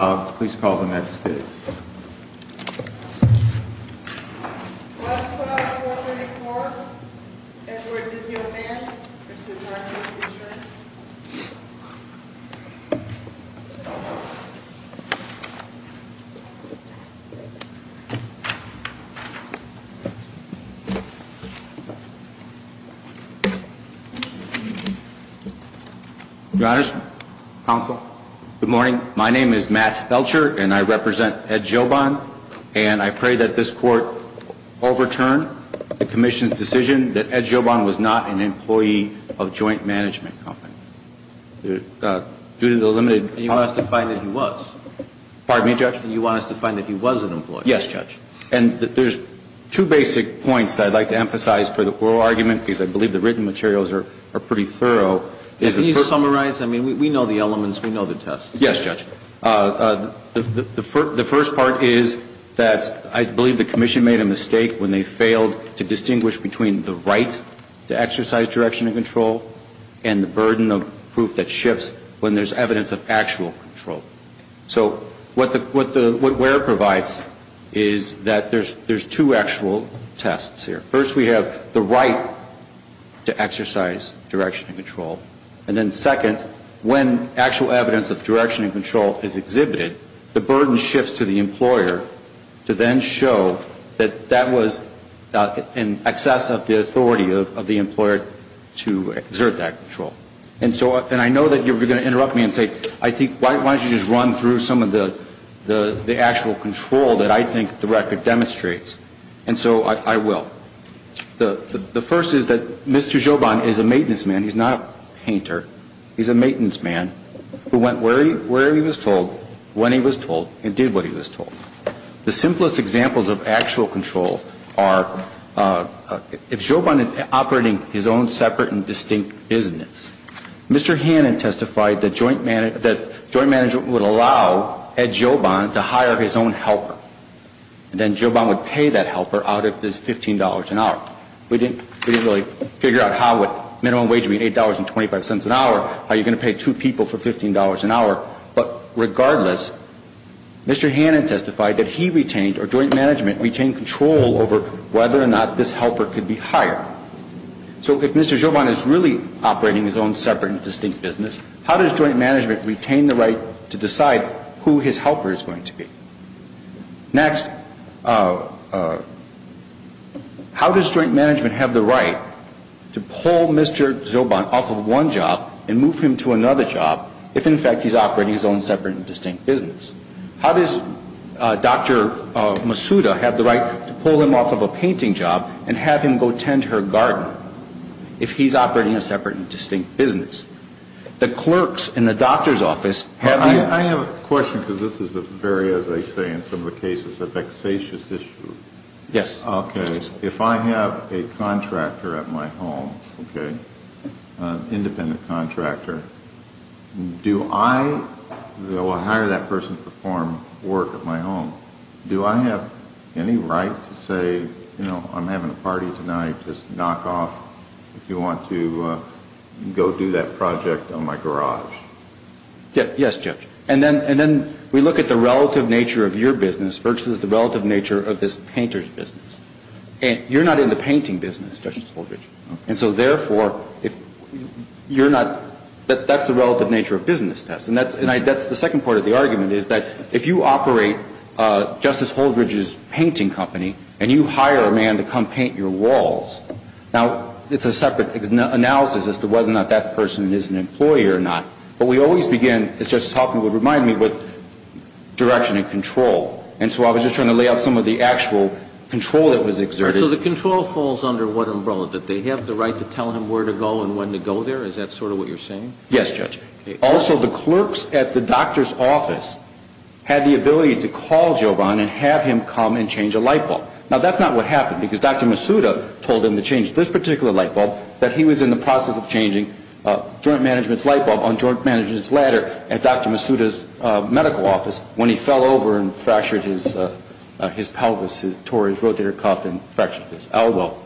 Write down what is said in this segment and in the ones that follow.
Please call the meds, please. West 12-134, Edward Dzioban v. Workers' Insurance. Good morning, my name is Matt Belcher and I represent Ed Dzioban and I pray that this Court will be in order to hear the evidence. First, the first is that the Court has not found that the employee was an employee due to the limited part of the evidence. And you want us to find that he was? Pardon me, Judge? And you want us to find that he was an employee? Yes, Judge. And there's two basic points that I'd like to emphasize for the oral argument because I believe the written materials are pretty thorough. Can you summarize? I mean, we know the elements, we know the tests. Yes, Judge. The first part is that I believe the Commission made a mistake when they failed to distinguish between the right to exercise direction and control and the burden of proof that shifts when there's evidence of actual control. So what WERA provides is that there's two actual tests here. First, we have the right to exercise direction and control. And then second, when actual evidence of direction and control is exhibited, the burden shifts to the employer to then show that that was in excess of the authority of the employer to exert that control. And so I know that you're going to interrupt me and say, I think, why don't you just run through some of the actual control that I think the record demonstrates. And so I will. The first is that Mr. Jobon is a maintenance man. He's not a painter. He's a maintenance man who went where he was told, when he was told, and did what he was told. The simplest examples of actual control are if Jobon is operating his own separate and distinct business, Mr. Hannon testified that joint management would allow Ed Jobon to hire his own helper. And then Jobon would pay that helper out of his $15 an hour. We didn't really figure out how would minimum wage be $8.25 an hour, how are you going to pay two people for $15 an hour. But regardless, Mr. Hannon testified that he retained or joint management retained control over whether or not this helper could be hired. So if Mr. Jobon is really operating his own separate and distinct business, how does joint management retain the right to decide who his helper is going to be? Next, how does joint management have the right to pull Mr. Jobon off of one job and move him to another job if, in fact, he's operating his own separate and distinct business? How does Dr. Masuda have the right to pull him off of a painting job and have him go tend her garden if he's operating a separate and distinct business? The clerks in the doctor's office have the ---- This is a very, as they say in some of the cases, a vexatious issue. Yes. Okay. If I have a contractor at my home, okay, an independent contractor, do I hire that person to perform work at my home, do I have any right to say, you know, I'm having a party tonight, just knock off if you want to go do that project on my garage? Yes, Judge. And then we look at the relative nature of your business versus the relative nature of this painter's business. You're not in the painting business, Justice Holdridge. And so, therefore, you're not ---- that's the relative nature of business tests. And that's the second part of the argument is that if you operate Justice Holdridge's painting company and you hire a man to come paint your walls, now, it's a separate analysis as to whether or not that person is an employee or not. But we always begin, as Justice Hoffman would remind me, with direction and control. And so I was just trying to lay out some of the actual control that was exerted. All right. So the control falls under what umbrella? Do they have the right to tell him where to go and when to go there? Is that sort of what you're saying? Yes, Judge. Okay. Also, the clerks at the doctor's office had the ability to call Joban and have him come and change a light bulb. Now, that's not what happened because Dr. Masuda told him to change this particular light bulb, that he was in the process of changing a joint management's light bulb on joint management's ladder at Dr. Masuda's medical office when he fell over and fractured his pelvis, tore his rotator cuff and fractured his elbow.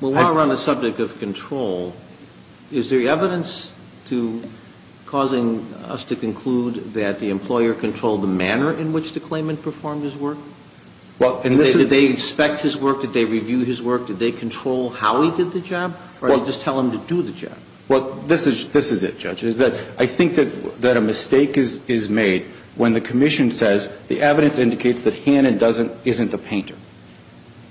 Well, while we're on the subject of control, is there evidence to causing us to conclude that the employer controlled the manner in which the claimant performed his work? Well, and this is the... Did they inspect his work? Did they review his work? Did they control how he did the job? Or did they just tell him to do the job? Well, this is it, Judge, is that I think that a mistake is made when the commission says the evidence indicates that Hannon isn't a painter,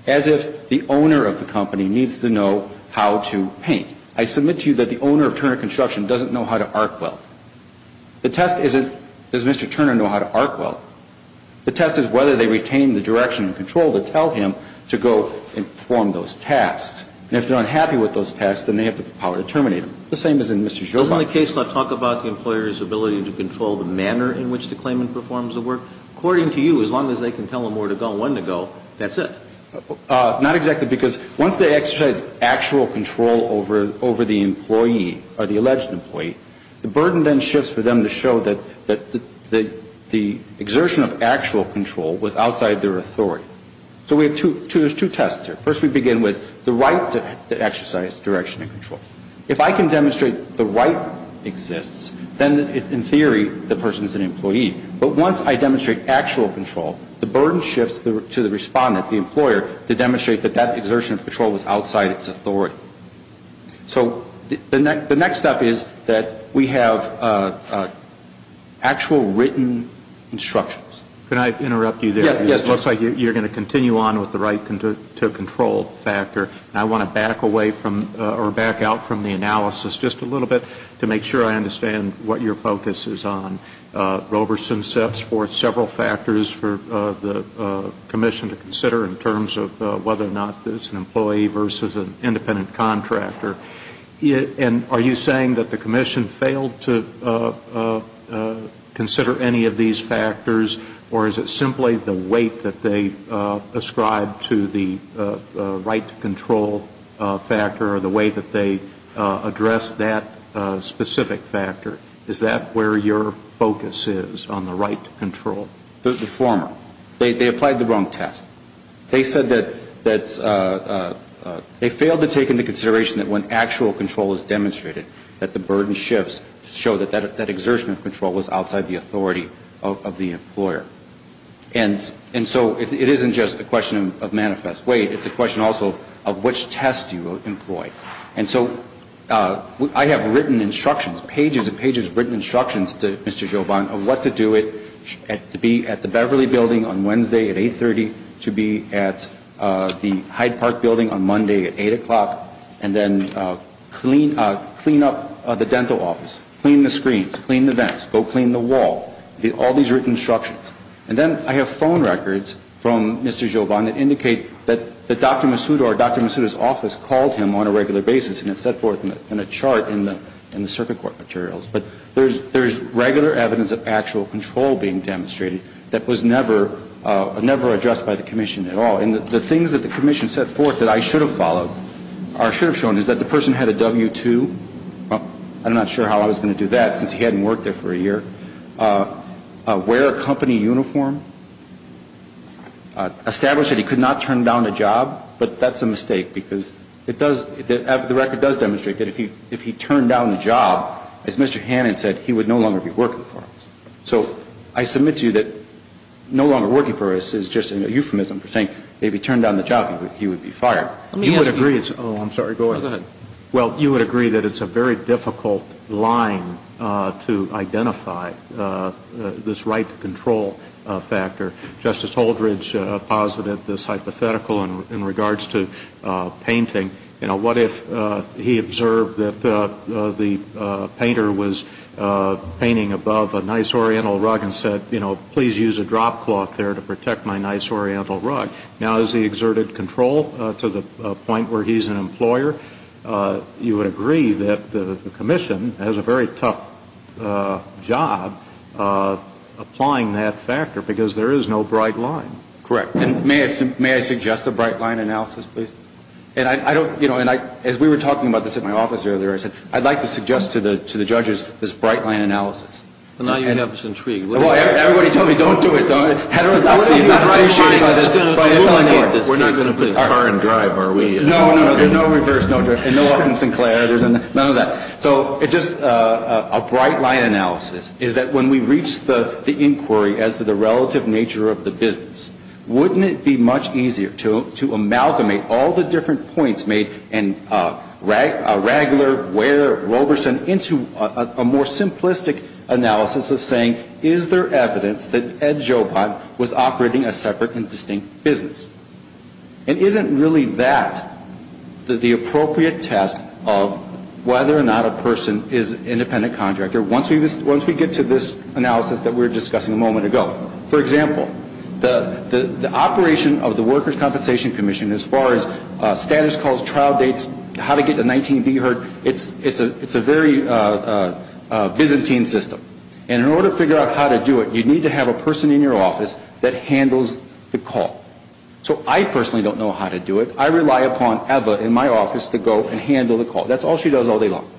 as if the owner of the company needs to know how to paint. I submit to you that the owner of Turner Construction doesn't know how to arc weld. The test isn't, does Mr. Turner know how to arc weld? The test is whether they retain the direction and control to tell him to go and perform those tasks. And if they're unhappy with those tasks, then they have the power to terminate them. The same as in Mr. Jobin's case. Doesn't the case not talk about the employer's ability to control the manner in which the claimant performs the work? According to you, as long as they can tell him where to go and when to go, that's it. Not exactly, because once they exercise actual control over the employee or the alleged employee, the burden then shifts for them to show that the exertion of actual control was outside their authority. So we have two tests here. First we begin with the right to exercise direction and control. If I can demonstrate the right exists, then in theory the person is an employee. But once I demonstrate actual control, the burden shifts to the respondent, the employer, to demonstrate that that exertion of control was outside its authority. So the next step is that we have actual written instructions. Can I interrupt you there? Yes. It looks like you're going to continue on with the right to control factor. I want to back away from or back out from the analysis just a little bit to make sure I understand what your focus is on. Roberson sets forth several factors for the commission to consider in terms of whether or not it's an employee versus an independent contractor. And are you saying that the commission failed to consider any of these factors, or is it that they ascribe to the right to control factor or the way that they address that specific factor? Is that where your focus is on the right to control? The former. They applied the wrong test. They said that they failed to take into consideration that when actual control is demonstrated that the burden shifts to show that that exertion of control was outside the authority of the employer. And so it isn't just a question of manifest weight. It's a question also of which test you employ. And so I have written instructions, pages and pages of written instructions to Mr. Jobon of what to do to be at the Beverly building on Wednesday at 830, to be at the Hyde Park building on Monday at 8 o'clock, and then clean up the dental office, clean the screens, clean the vents, go clean the wall. All these written instructions. And then I have phone records from Mr. Jobon that indicate that Dr. Masuda or Dr. Masuda's office called him on a regular basis and it's set forth in a chart in the circuit court materials. But there's regular evidence of actual control being demonstrated that was never addressed by the commission at all. And the things that the commission set forth that I should have followed or should have shown is that the person had a W-2. I'm not sure how I was going to do that since he hadn't worked there for a year. Wear a company uniform. Establish that he could not turn down a job. But that's a mistake because it does, the record does demonstrate that if he turned down the job, as Mr. Hannon said, he would no longer be working for us. So I submit to you that no longer working for us is just a euphemism for saying if he turned down the job, he would be fired. You would agree it's, oh, I'm sorry. Go ahead. Well, you would agree that it's a very difficult line to identify this right to control factor. Justice Holdredge posited this hypothetical in regards to painting. You know, what if he observed that the painter was painting above a nice oriental rug and said, you know, please use a drop cloth there to protect my nice oriental rug. Now, has he exerted control to the point where he's an employer? You would agree that the commission has a very tough job applying that factor because there is no bright line. Correct. And may I suggest a bright line analysis, please? And I don't, you know, and I, as we were talking about this at my office earlier, I said I'd like to suggest to the judges this bright line analysis. But now you have this intrigue. Everybody tell me don't do it. We're not going to put car in drive, are we? No, no, no. There's no reverse, no drift. And no Orton Sinclair. There's none of that. So it's just a bright line analysis is that when we reach the inquiry as to the relative nature of the business, wouldn't it be much easier to amalgamate all the different points made in Ragler, Ware, Roberson into a more simplistic analysis of saying is there evidence that Ed Jobon was operating a separate and distinct business? And isn't really that the appropriate test of whether or not a person is an independent contractor once we get to this analysis that we were discussing a moment ago? For example, the operation of the Workers' Compensation Commission as far as status calls, trial dates, how to get a 19B heard, it's a very Byzantine system. And in order to figure out how to do it, you need to have a person in your office that handles the call. So I personally don't know how to do it. I rely upon Eva in my office to go and handle the call. That's all she does all day long.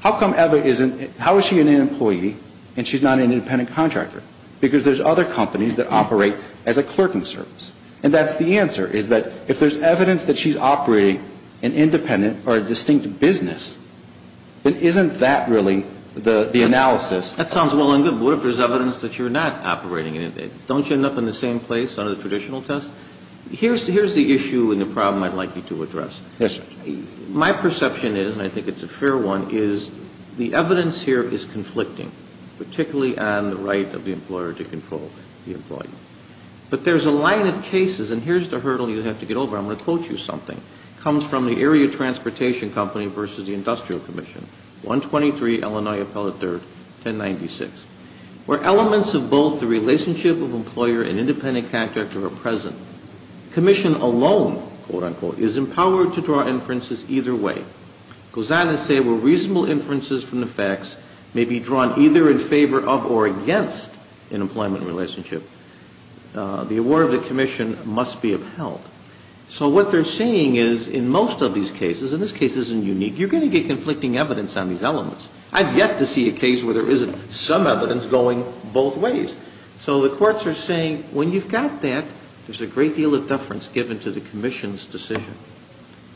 How come Eva isn't, how is she an employee and she's not an independent contractor? Because there's other companies that operate as a clerking service. And that's the answer is that if there's evidence that she's operating an independent or a distinct business, then isn't that really the analysis? That sounds well and good. But what if there's evidence that you're not operating an independent? Don't you end up in the same place under the traditional test? Here's the issue and the problem I'd like you to address. Yes, sir. My perception is, and I think it's a fair one, is the evidence here is conflicting, particularly on the right of the employer to control the employee. But there's a line of cases, and here's the hurdle you have to get over. I'm going to quote you something. It comes from the Area Transportation Company versus the Industrial Commission, 123 Illinois Appellate 3rd, 1096. Where elements of both the relationship of employer and independent contractor are present, commission alone, quote, unquote, is empowered to draw inferences either way. It goes on to say where reasonable inferences from the facts may be drawn either in favor of or against an employment relationship, the award of the commission must be upheld. So what they're saying is in most of these cases, and this case isn't unique, you're going to get conflicting evidence on these elements. I've yet to see a case where there isn't some evidence going both ways. So the courts are saying when you've got that, there's a great deal of deference given to the commission's decision.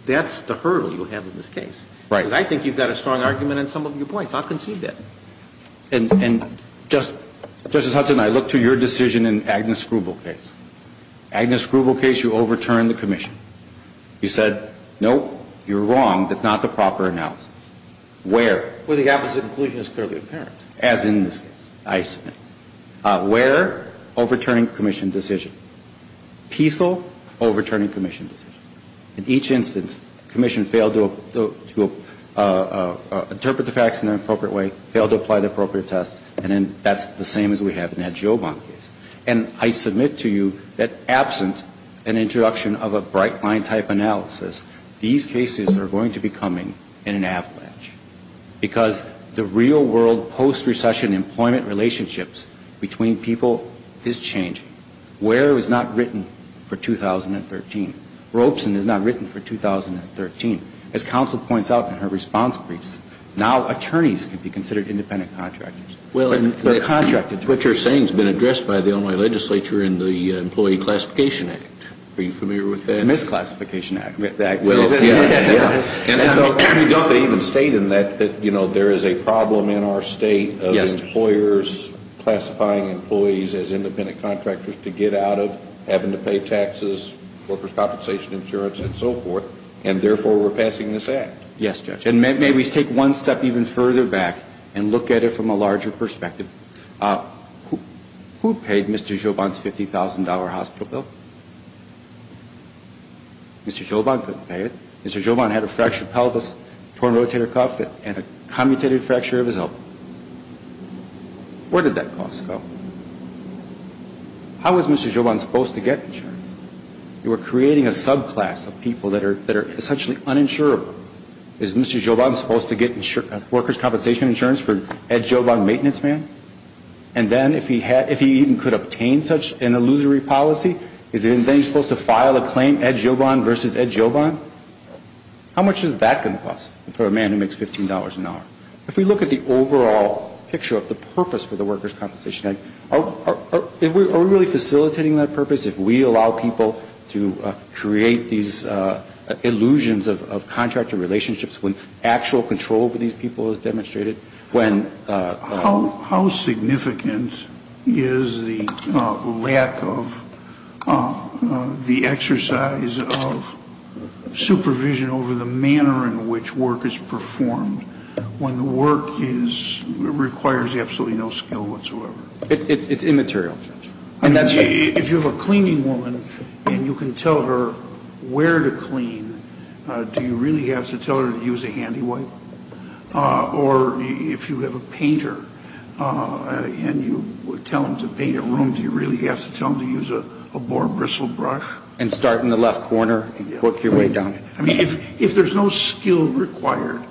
That's the hurdle you have in this case. Right. Because I think you've got a strong argument on some of your points. I've conceived that. And just, Justice Hudson, I look to your decision in Agnes Grubel's case. Agnes Grubel case, you overturned the commission. You said, no, you're wrong. That's not the proper analysis. Where? Where the opposite inclusion is clearly apparent. As in this case, I submit. Where? Overturning commission decision. Peasel? Overturning commission decision. In each instance, commission failed to interpret the facts in an appropriate way, failed to apply the appropriate tests, and then that's the same as we have in that Giovon case. And I submit to you that absent an introduction of a bright line type analysis, these cases are going to be coming in an avalanche. Because the real world post-recession employment relationships between people is changing. Where was not written for 2013. Robeson is not written for 2013. As counsel points out in her response briefs, now attorneys can be considered independent contractors. Well, what you're saying has been addressed by the only legislature in the Employee Classification Act. Are you familiar with that? Misclassification Act. And so don't they even state in that, you know, there is a problem in our state of employers classifying employees as independent contractors to get out of having to pay taxes, workers' compensation insurance, and so forth, and therefore we're passing this act. Yes, Judge. And may we take one step even further back and look at it from a larger perspective. Who paid Mr. Giovon's $50,000 hospital bill? Mr. Giovon couldn't pay it. Mr. Giovon had a fractured pelvis, torn rotator cuff, and a commutated fracture of his elbow. Where did that cost go? How was Mr. Giovon supposed to get insurance? You are creating a subclass of people that are essentially uninsurable. Is Mr. Giovon supposed to get workers' compensation insurance for Ed Giovon, maintenance man? And then if he even could obtain such an illusory policy, is he then supposed to file a claim, Ed Giovon versus Ed Giovon? How much is that going to cost for a man who makes $15 an hour? If we look at the overall picture of the purpose for the Workers' Compensation Act, are we really facilitating that purpose if we allow people to create these illusions of contractual relationships when actual control over these people is demonstrated? How significant is the lack of the exercise of supervision over the manner in which work is performed when work requires absolutely no skill whatsoever? It's immaterial, Judge. If you have a cleaning woman and you can tell her where to clean, do you really have to tell her to use a handy wipe? Or if you have a painter and you tell him to paint a room, do you really have to tell him to use a boar bristle brush? And start in the left corner and work your way down? If there's no skill required,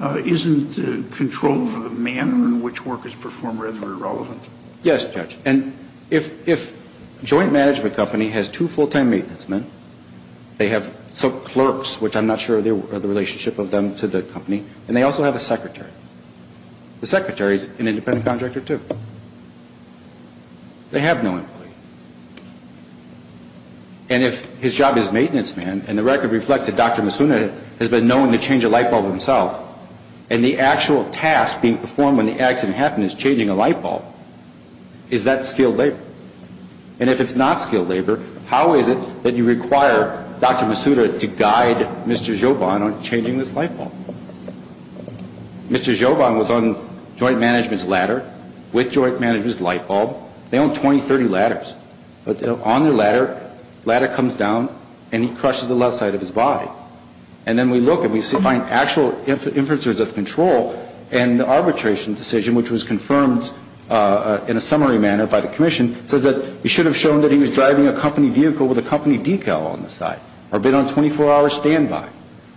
isn't control over the manner in which work is performed rather irrelevant? Yes, Judge. And if a joint management company has two full-time maintenance men, they have some clerks, which I'm not sure of the relationship of them to the company, and they also have a secretary. The secretary is an independent contractor, too. They have no employee. And if his job is maintenance man, and the record reflects that Dr. Masuna has been known to change a light bulb himself, and the actual task being performed when the accident happened is changing a light bulb, is that skilled labor? And if it's not skilled labor, how is it that you require Dr. Masuna to guide Mr. Joban on changing this light bulb? Mr. Joban was on joint management's ladder with joint management's light bulb. They own 20, 30 ladders. But on their ladder, the ladder comes down, and he crushes the left side of his body. And then we look, and we find actual inferences of control, and the arbitration decision, which was confirmed in a summary manner by the commission, says that we should have shown that he was driving a company vehicle with a company decal on the side, or been on 24-hour standby,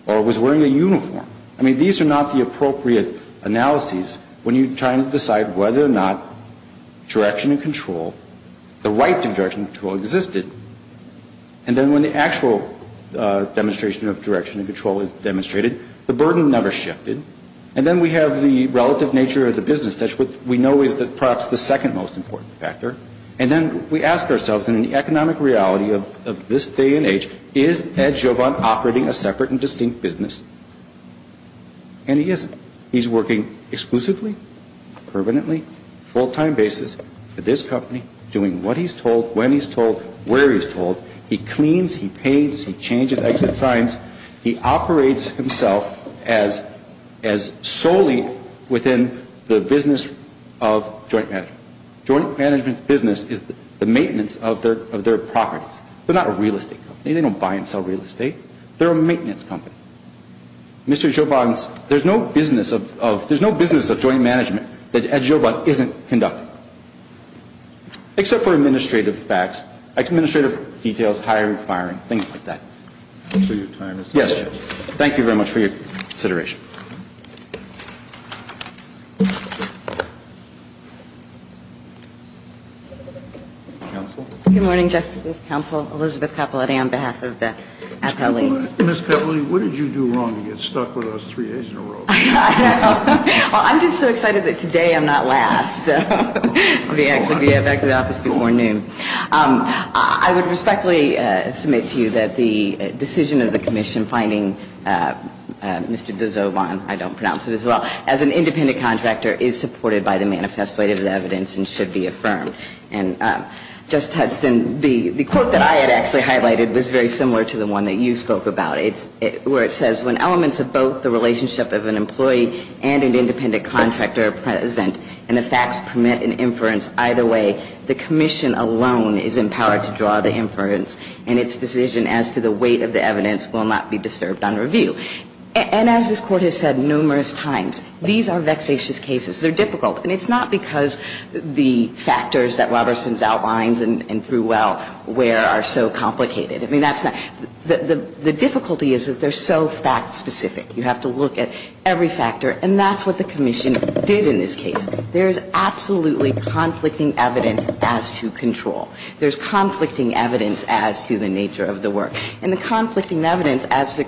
or was wearing a uniform. I mean, these are not the appropriate analyses when you're trying to decide whether or not direction and control, the right direction and control, existed. And then when the actual demonstration of direction and control is demonstrated, the burden never shifted. And then we have the relative nature of the business. That's what we know is perhaps the second most important factor. And then we ask ourselves, in an economic reality of this day and age, is Ed Joban operating a separate and distinct business? And he isn't. He's working exclusively, permanently, full-time basis for this company, doing what he's told, when he's told, where he's told. He cleans, he paints, he changes exit signs. He operates himself as solely within the business of joint management. Joint management business is the maintenance of their properties. They're not a real estate company. They don't buy and sell real estate. They're a maintenance company. Mr. Joban's, there's no business of joint management that Ed Joban isn't conducting. Except for administrative facts. Administrative details, hiring, firing, things like that. So your time is up. Yes, Judge. Thank you very much for your consideration. Counsel? Good morning, Justices, Counsel. Elizabeth Capoletti on behalf of the athlete. Ms. Capoletti, what did you do wrong to get stuck with us three days in a row? Well, I'm just so excited that today I'm not last. So let me actually get back to the office before noon. I would respectfully submit to you that the decision of the commission finding Mr. DeJoban, I don't pronounce it as well, as an independent contractor is supported by the manifest weight of the evidence and should be affirmed. And, Judge Hudson, the quote that I had actually highlighted was very similar to the one that you spoke about. It's where it says, when elements of both the relationship of an employee and an independent contractor are present and the facts permit an inference either way, the commission alone is empowered to draw the inference and its decision as to the weight of the evidence will not be disturbed on review. And as this Court has said numerous times, these are vexatious cases. They're difficult. And it's not because the factors that Robertson's outlines and threw well where are so complicated. I mean, that's not the difficulty is that they're so fact-specific. You have to look at every factor. And that's what the commission did in this case. There's absolutely conflicting evidence as to control. There's conflicting evidence as to the nature of the work. And the conflicting evidence as to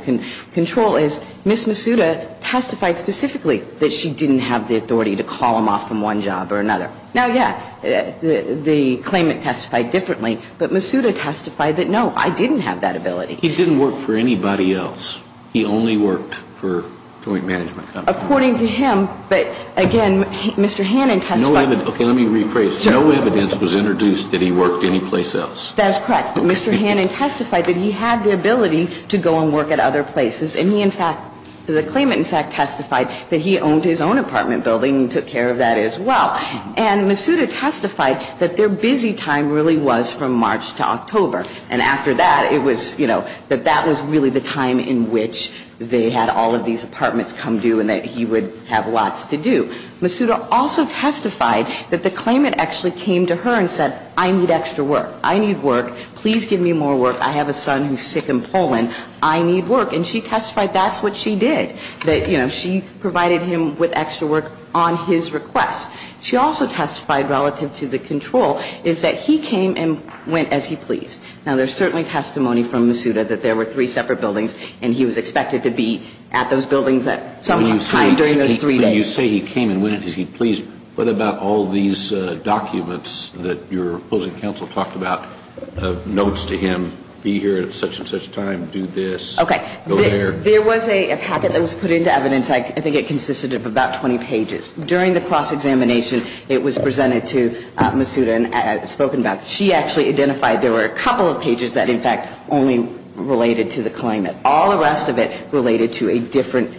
control is Ms. Masuda testified specifically that she didn't have the authority to call him off from one job or another. Now, yeah, the claimant testified differently. But Masuda testified that, no, I didn't have that ability. He didn't work for anybody else. He only worked for a joint management company. According to him. But, again, Mr. Hannon testified. Okay. Let me rephrase. No evidence was introduced that he worked anyplace else. That's correct. Mr. Hannon testified that he had the ability to go and work at other places. And he, in fact, the claimant, in fact, testified that he owned his own apartment building and took care of that as well. And Masuda testified that their busy time really was from March to October. And after that, it was, you know, that that was really the time in which they had all of these apartments come due and that he would have lots to do. Masuda also testified that the claimant actually came to her and said, I need extra work. I need work. Please give me more work. I have a son who's sick in Poland. I need work. And she testified that's what she did. That, you know, she provided him with extra work on his request. She also testified relative to the control is that he came and went as he pleased. Now, there's certainly testimony from Masuda that there were three separate buildings and he was expected to be at those buildings at some time during those three days. When you say he came and went as he pleased, what about all these documents that your opposing counsel talked about of notes to him, be here at such and such time, do this, go there? Okay. There was a packet that was put into evidence. I think it consisted of about 20 pages. During the cross-examination, it was presented to Masuda and spoken about. She actually identified there were a couple of pages that, in fact, only related to the claimant. All the rest of it related to a different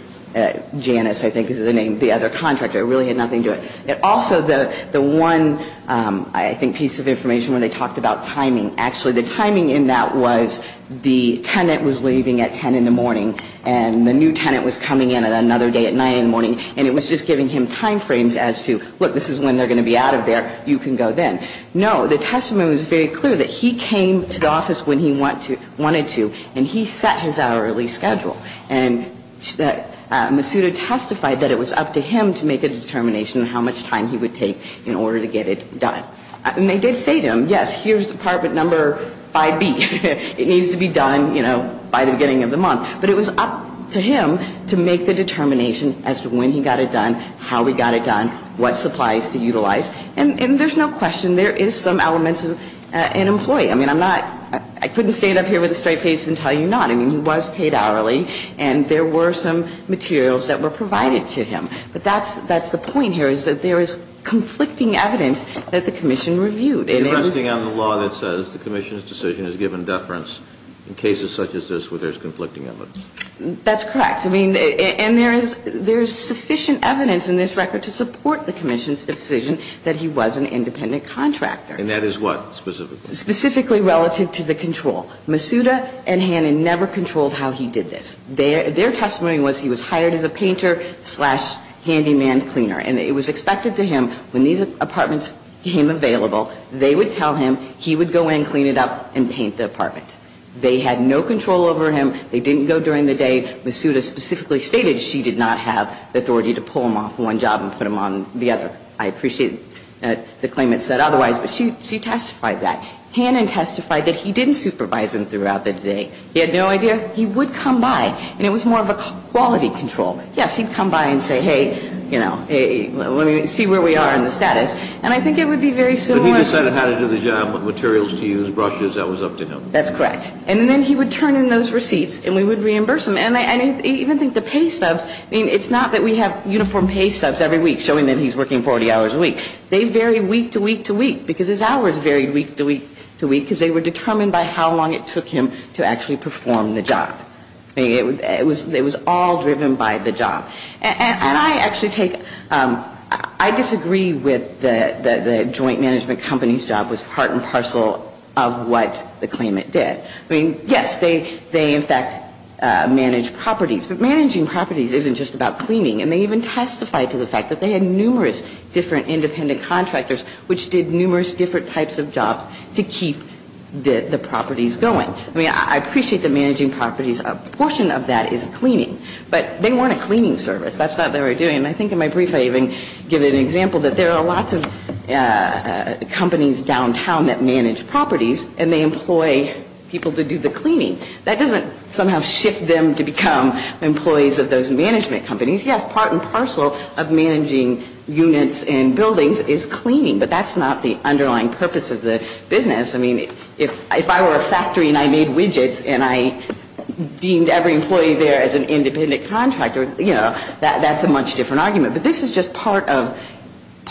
Janice, I think is the name, the other contractor. It really had nothing to do with it. Also, the one, I think, piece of information where they talked about timing, actually the timing in that was the tenant was leaving at 10 in the morning and the new tenant was coming in at another day at 9 in the morning. And it was just giving him time frames as to, look, this is when they're going to be out of there. You can go then. No, the testimony was very clear that he came to the office when he wanted to and he set his hourly schedule. And Masuda testified that it was up to him to make a determination how much time he would take in order to get it done. And they did say to him, yes, here's Department Number 5B. It needs to be done, you know, by the beginning of the month. But it was up to him to make the determination as to when he got it done, how he got it done, what supplies to utilize. And there's no question there is some elements of an employee. I mean, I'm not – I couldn't stand up here with a straight face and tell you not. I mean, he was paid hourly and there were some materials that were provided to him. But that's the point here is that there is conflicting evidence that the commission reviewed. And it was – You're resting on the law that says the commission's decision has given deference in cases such as this where there's conflicting evidence. That's correct. I mean, and there is sufficient evidence in this record to support the commission's decision that he was an independent contractor. And that is what specifically? Specifically relative to the control. Masuda and Hannan never controlled how he did this. Their testimony was he was hired as a painter slash handyman cleaner. And it was expected to him when these apartments became available, they would tell him he would go in, clean it up, and paint the apartment. They had no control over him. They didn't go during the day. Masuda specifically stated she did not have the authority to pull him off one job and put him on the other. I appreciate the claimant said otherwise, but she testified that. Hannan testified that he didn't supervise him throughout the day. He had no idea he would come by. And it was more of a quality control. Yes, he'd come by and say, hey, you know, hey, let me see where we are in the status. And I think it would be very similar. But he decided how to do the job, what materials to use, brushes. That was up to him. That's correct. And then he would turn in those receipts and we would reimburse him. And I even think the pay stubs, I mean, it's not that we have uniform pay stubs every week showing that he's working 40 hours a week. They vary week to week to week because his hours varied week to week to week because they were determined by how long it took him to actually perform the job. I mean, it was all driven by the job. And I actually take ‑‑ I disagree with the joint management company's job was part and parcel of what the claimant did. I mean, yes, they in fact managed properties. But managing properties isn't just about cleaning. And they even testified to the fact that they had numerous different independent contractors which did numerous different types of jobs to keep the properties going. I mean, I appreciate the managing properties. A portion of that is cleaning. But they weren't a cleaning service. That's not what they were doing. And I think in my brief I even give an example that there are lots of companies downtown that manage properties and they employ people to do the cleaning. That doesn't somehow shift them to become employees of those management companies. Yes, part and parcel of managing units and buildings is cleaning. But that's not the underlying purpose of the business. I mean, if I were a factory and I made widgets and I deemed every employee there as an independent contractor, you know, that's a much different argument. But this is just part of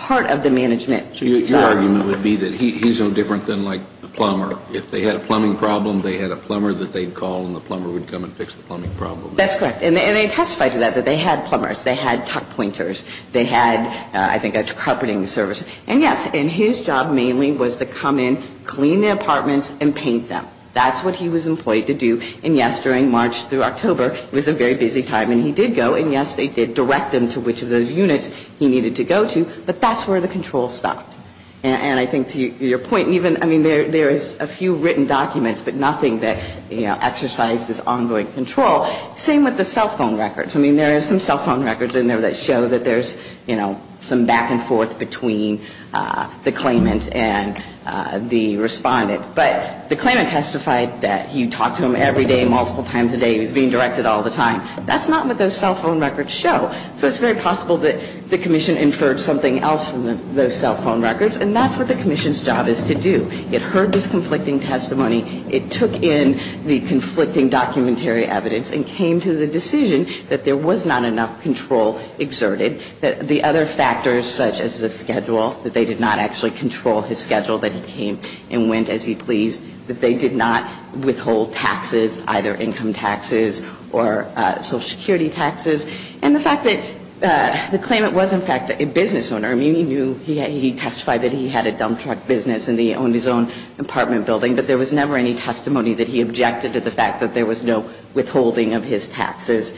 the management. So your argument would be that he's no different than like the plumber. If they had a plumbing problem, they had a plumber that they'd call and the plumber would come and fix the plumbing problem. That's correct. And they testified to that, that they had plumbers. They had tuck pointers. They had, I think, a carpeting service. And, yes, and his job mainly was to come in, clean the apartments, and paint them. That's what he was employed to do. And, yes, during March through October, it was a very busy time. And he did go. And, yes, they did direct him to which of those units he needed to go to. But that's where the control stopped. And I think to your point, even, I mean, there is a few written documents, but nothing that, you know, exercised this ongoing control. Same with the cell phone records. I mean, there are some cell phone records in there that show that there's, you know, some back and forth between the claimant and the respondent. But the claimant testified that he talked to him every day, multiple times a day. He was being directed all the time. That's not what those cell phone records show. So it's very possible that the commission inferred something else from those cell phone records. And that's what the commission's job is to do. It heard this conflicting testimony. It took in the conflicting documentary evidence and came to the decision that there was not enough control exerted. The other factors, such as the schedule, that they did not actually control his schedule, that he came and went as he pleased, that they did not withhold taxes, either income taxes or Social Security taxes. And the fact that the claimant was, in fact, a business owner. I mean, he knew, he testified that he had a dump truck business and he owned his own apartment building. But there was never any testimony that he objected to the fact that there was no withholding of his taxes,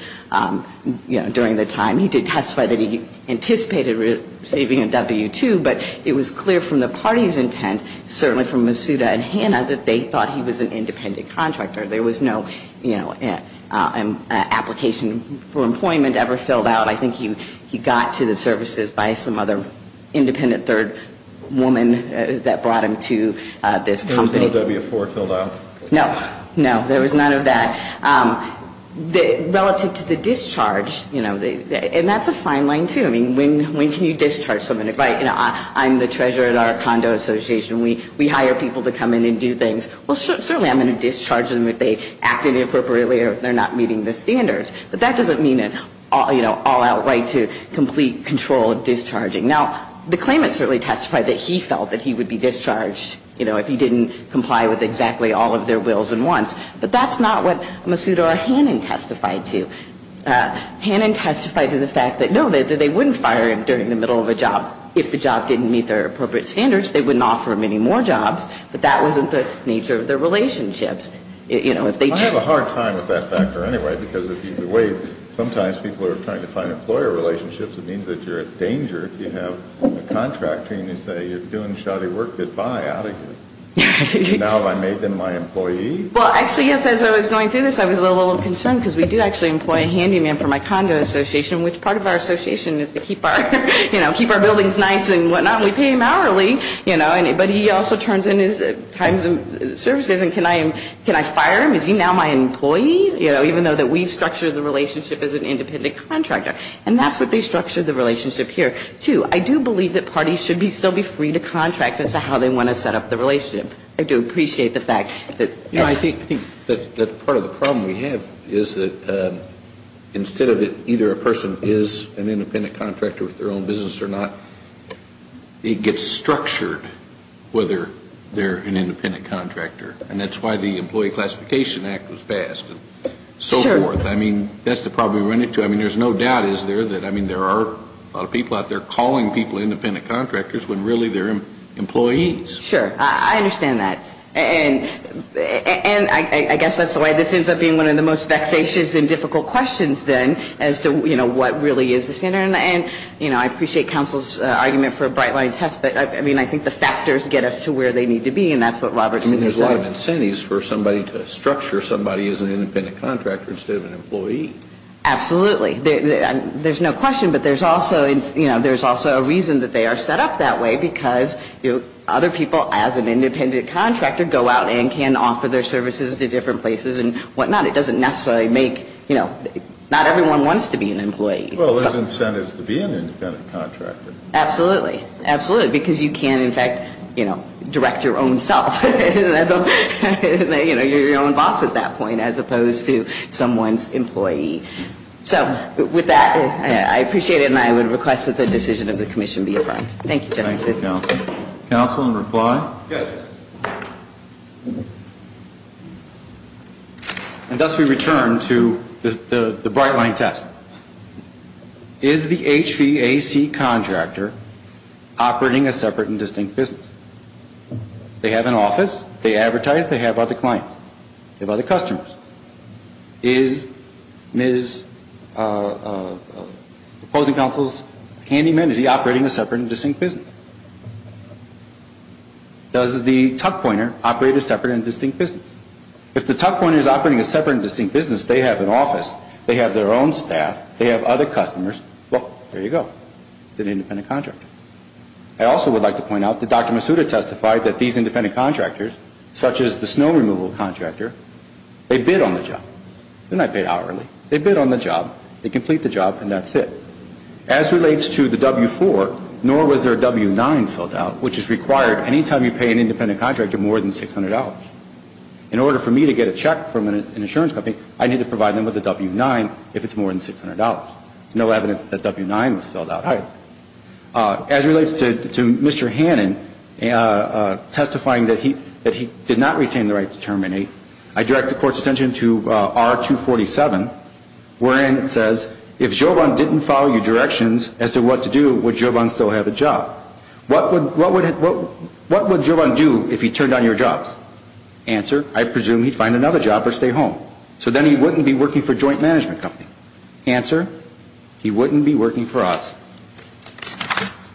you know, during the time. He did testify that he anticipated receiving a W-2. But it was clear from the party's intent, certainly from Masuda and Hanna, that they thought he was an independent contractor. There was no, you know, application for employment ever filled out. I think he got to the services by some other independent third woman that brought him to this company. There was no W-4 filled out? No, no. There was none of that. Relative to the discharge, you know, and that's a fine line, too. I mean, when can you discharge somebody? Right, you know, I'm the treasurer at our condo association. We hire people to come in and do things. Well, certainly I'm going to discharge them if they act inappropriately or if they're not meeting the standards. But that doesn't mean, you know, all outright to complete control of discharging. Now, the claimant certainly testified that he felt that he would be discharged, you know, if he didn't comply with exactly all of their wills and wants. But that's not what Masuda or Hanna testified to. Hanna testified to the fact that, no, they wouldn't fire him during the middle of a job. If the job didn't meet their appropriate standards, they wouldn't offer him any more jobs. But that wasn't the nature of their relationships. I have a hard time with that factor anyway. Because the way sometimes people are trying to find employer relationships, it means that you're in danger if you have a contractor and you say, you're doing shoddy work, goodbye, out of here. Now have I made them my employee? Well, actually, yes, as I was going through this, I was a little concerned because we do actually employ a handyman from my condo association, which part of our association is to keep our, you know, keep our buildings nice and whatnot. We pay him hourly. You know, but he also turns in his times and services. And can I fire him? Is he now my employee? You know, even though that we've structured the relationship as an independent contractor. And that's what they structured the relationship here. Two, I do believe that parties should still be free to contract as to how they want to set up the relationship. I do appreciate the fact that. No, I think that part of the problem we have is that instead of either a person is an independent contractor with their own business or not, it gets structured whether they're an independent contractor. And that's why the Employee Classification Act was passed and so forth. I mean, that's the problem we run into. I mean, there's no doubt, is there, that, I mean, there are a lot of people out there calling people independent contractors when really they're employees. Sure. I understand that. And I guess that's the way this ends up being one of the most vexatious and difficult questions then as to, you know, what really is the standard. And, you know, I appreciate counsel's argument for a bright line test. But, I mean, I think the factors get us to where they need to be. And that's what Robertson is talking about. I mean, there's a lot of incentives for somebody to structure somebody as an independent contractor instead of an employee. Absolutely. There's no question. But there's also, you know, there's also a reason that they are set up that way because other people as an independent contractor go out and can offer their services to different places and whatnot. It doesn't necessarily make, you know, not everyone wants to be an employee. Well, there's incentives to be an independent contractor. Absolutely. Absolutely. Because you can, in fact, you know, direct your own self. You know, you're your own boss at that point as opposed to someone's employee. So with that, I appreciate it. And I would request that the decision of the commission be affirmed. Thank you, Justice. Thank you, counsel. Counsel in reply? Yes. Okay. And thus we return to the bright line test. Is the HVAC contractor operating a separate and distinct business? They have an office. They advertise. They have other clients. They have other customers. Is Ms. opposing counsel's handyman, is he operating a separate and distinct business? Does the tuck pointer operate a separate and distinct business? If the tuck pointer is operating a separate and distinct business, they have an office. They have their own staff. They have other customers. Well, there you go. It's an independent contractor. I also would like to point out that Dr. Masuda testified that these independent contractors, such as the snow removal contractor, they bid on the job. They're not paid hourly. They bid on the job. They complete the job, and that's it. As relates to the W-4, nor was there a W-9 filled out, which is required, any time you pay an independent contractor more than $600. In order for me to get a check from an insurance company, I need to provide them with a W-9 if it's more than $600. No evidence that W-9 was filled out. All right. As relates to Mr. Hannon testifying that he did not retain the right to terminate, I direct the court's attention to R-247, wherein it says, if Joban didn't follow your directions as to what to do, would Joban still have a job? What would Joban do if he turned down your jobs? Answer, I presume he'd find another job or stay home. So then he wouldn't be working for a joint management company. Answer, he wouldn't be working for us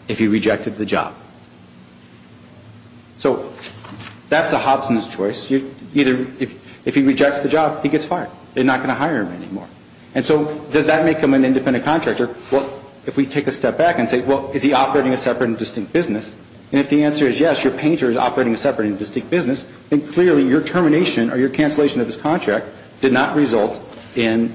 if he rejected the job. So that's a Hobson's choice. Either if he rejects the job, he gets fired. They're not going to hire him anymore. And so does that make him an independent contractor? Well, if we take a step back and say, well, is he operating a separate and distinct business? And if the answer is yes, your painter is operating a separate and distinct business, then clearly your termination or your cancellation of his contract did not result in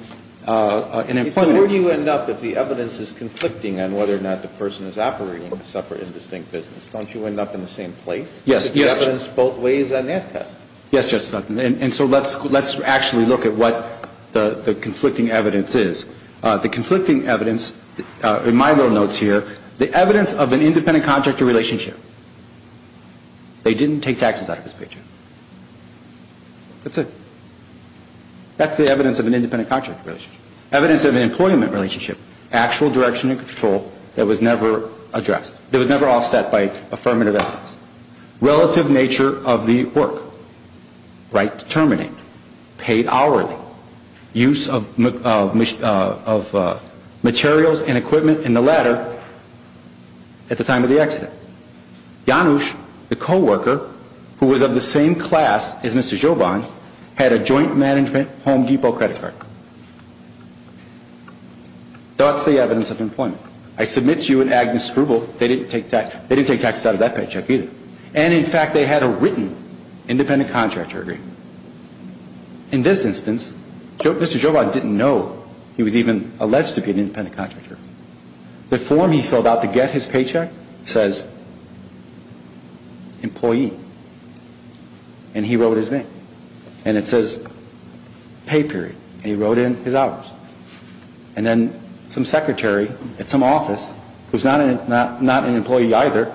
an employment. So where do you end up if the evidence is conflicting on whether or not the person is operating a separate and distinct business? Don't you end up in the same place? Yes. Because the evidence both ways on that test. Yes, Justice Hudson. And so let's actually look at what the conflicting evidence is. The conflicting evidence, in my little notes here, the evidence of an independent contractor relationship. They didn't take taxes out of his paycheck. That's it. That's the evidence of an independent contractor relationship. Evidence of an employment relationship, actual direction and control that was never addressed, that was never offset by affirmative evidence. Relative nature of the work. Right to terminate. Paid hourly. Use of materials and equipment, and the latter, at the time of the accident. Janusz, the co-worker, who was of the same class as Mr. Joban, had a joint management Home Depot credit card. That's the evidence of employment. I submit to you and Agnes Scrubel, they didn't take taxes out of that paycheck either. And in fact, they had a written independent contractor agreement. In this instance, Mr. Joban didn't know he was even alleged to be an independent contractor. The form he filled out to get his paycheck says, employee. And he wrote his name. And it says, pay period. And he wrote in his hours. And then some secretary at some office, who's not an employee either,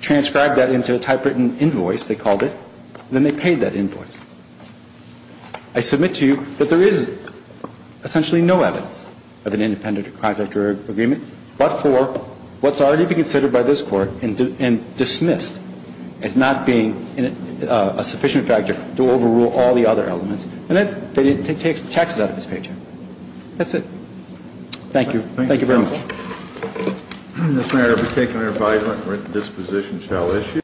transcribed that into a typewritten invoice, they called it. And then they paid that invoice. I submit to you that there is essentially no evidence of an independent contractor agreement but for what's already been considered by this Court and dismissed as not being a sufficient factor to overrule all the other elements. And that's that he didn't take taxes out of his paycheck. That's it. Thank you. Thank you very much. Thank you, counsel. Mr. Mayor, if we take an advisory, this position shall issue.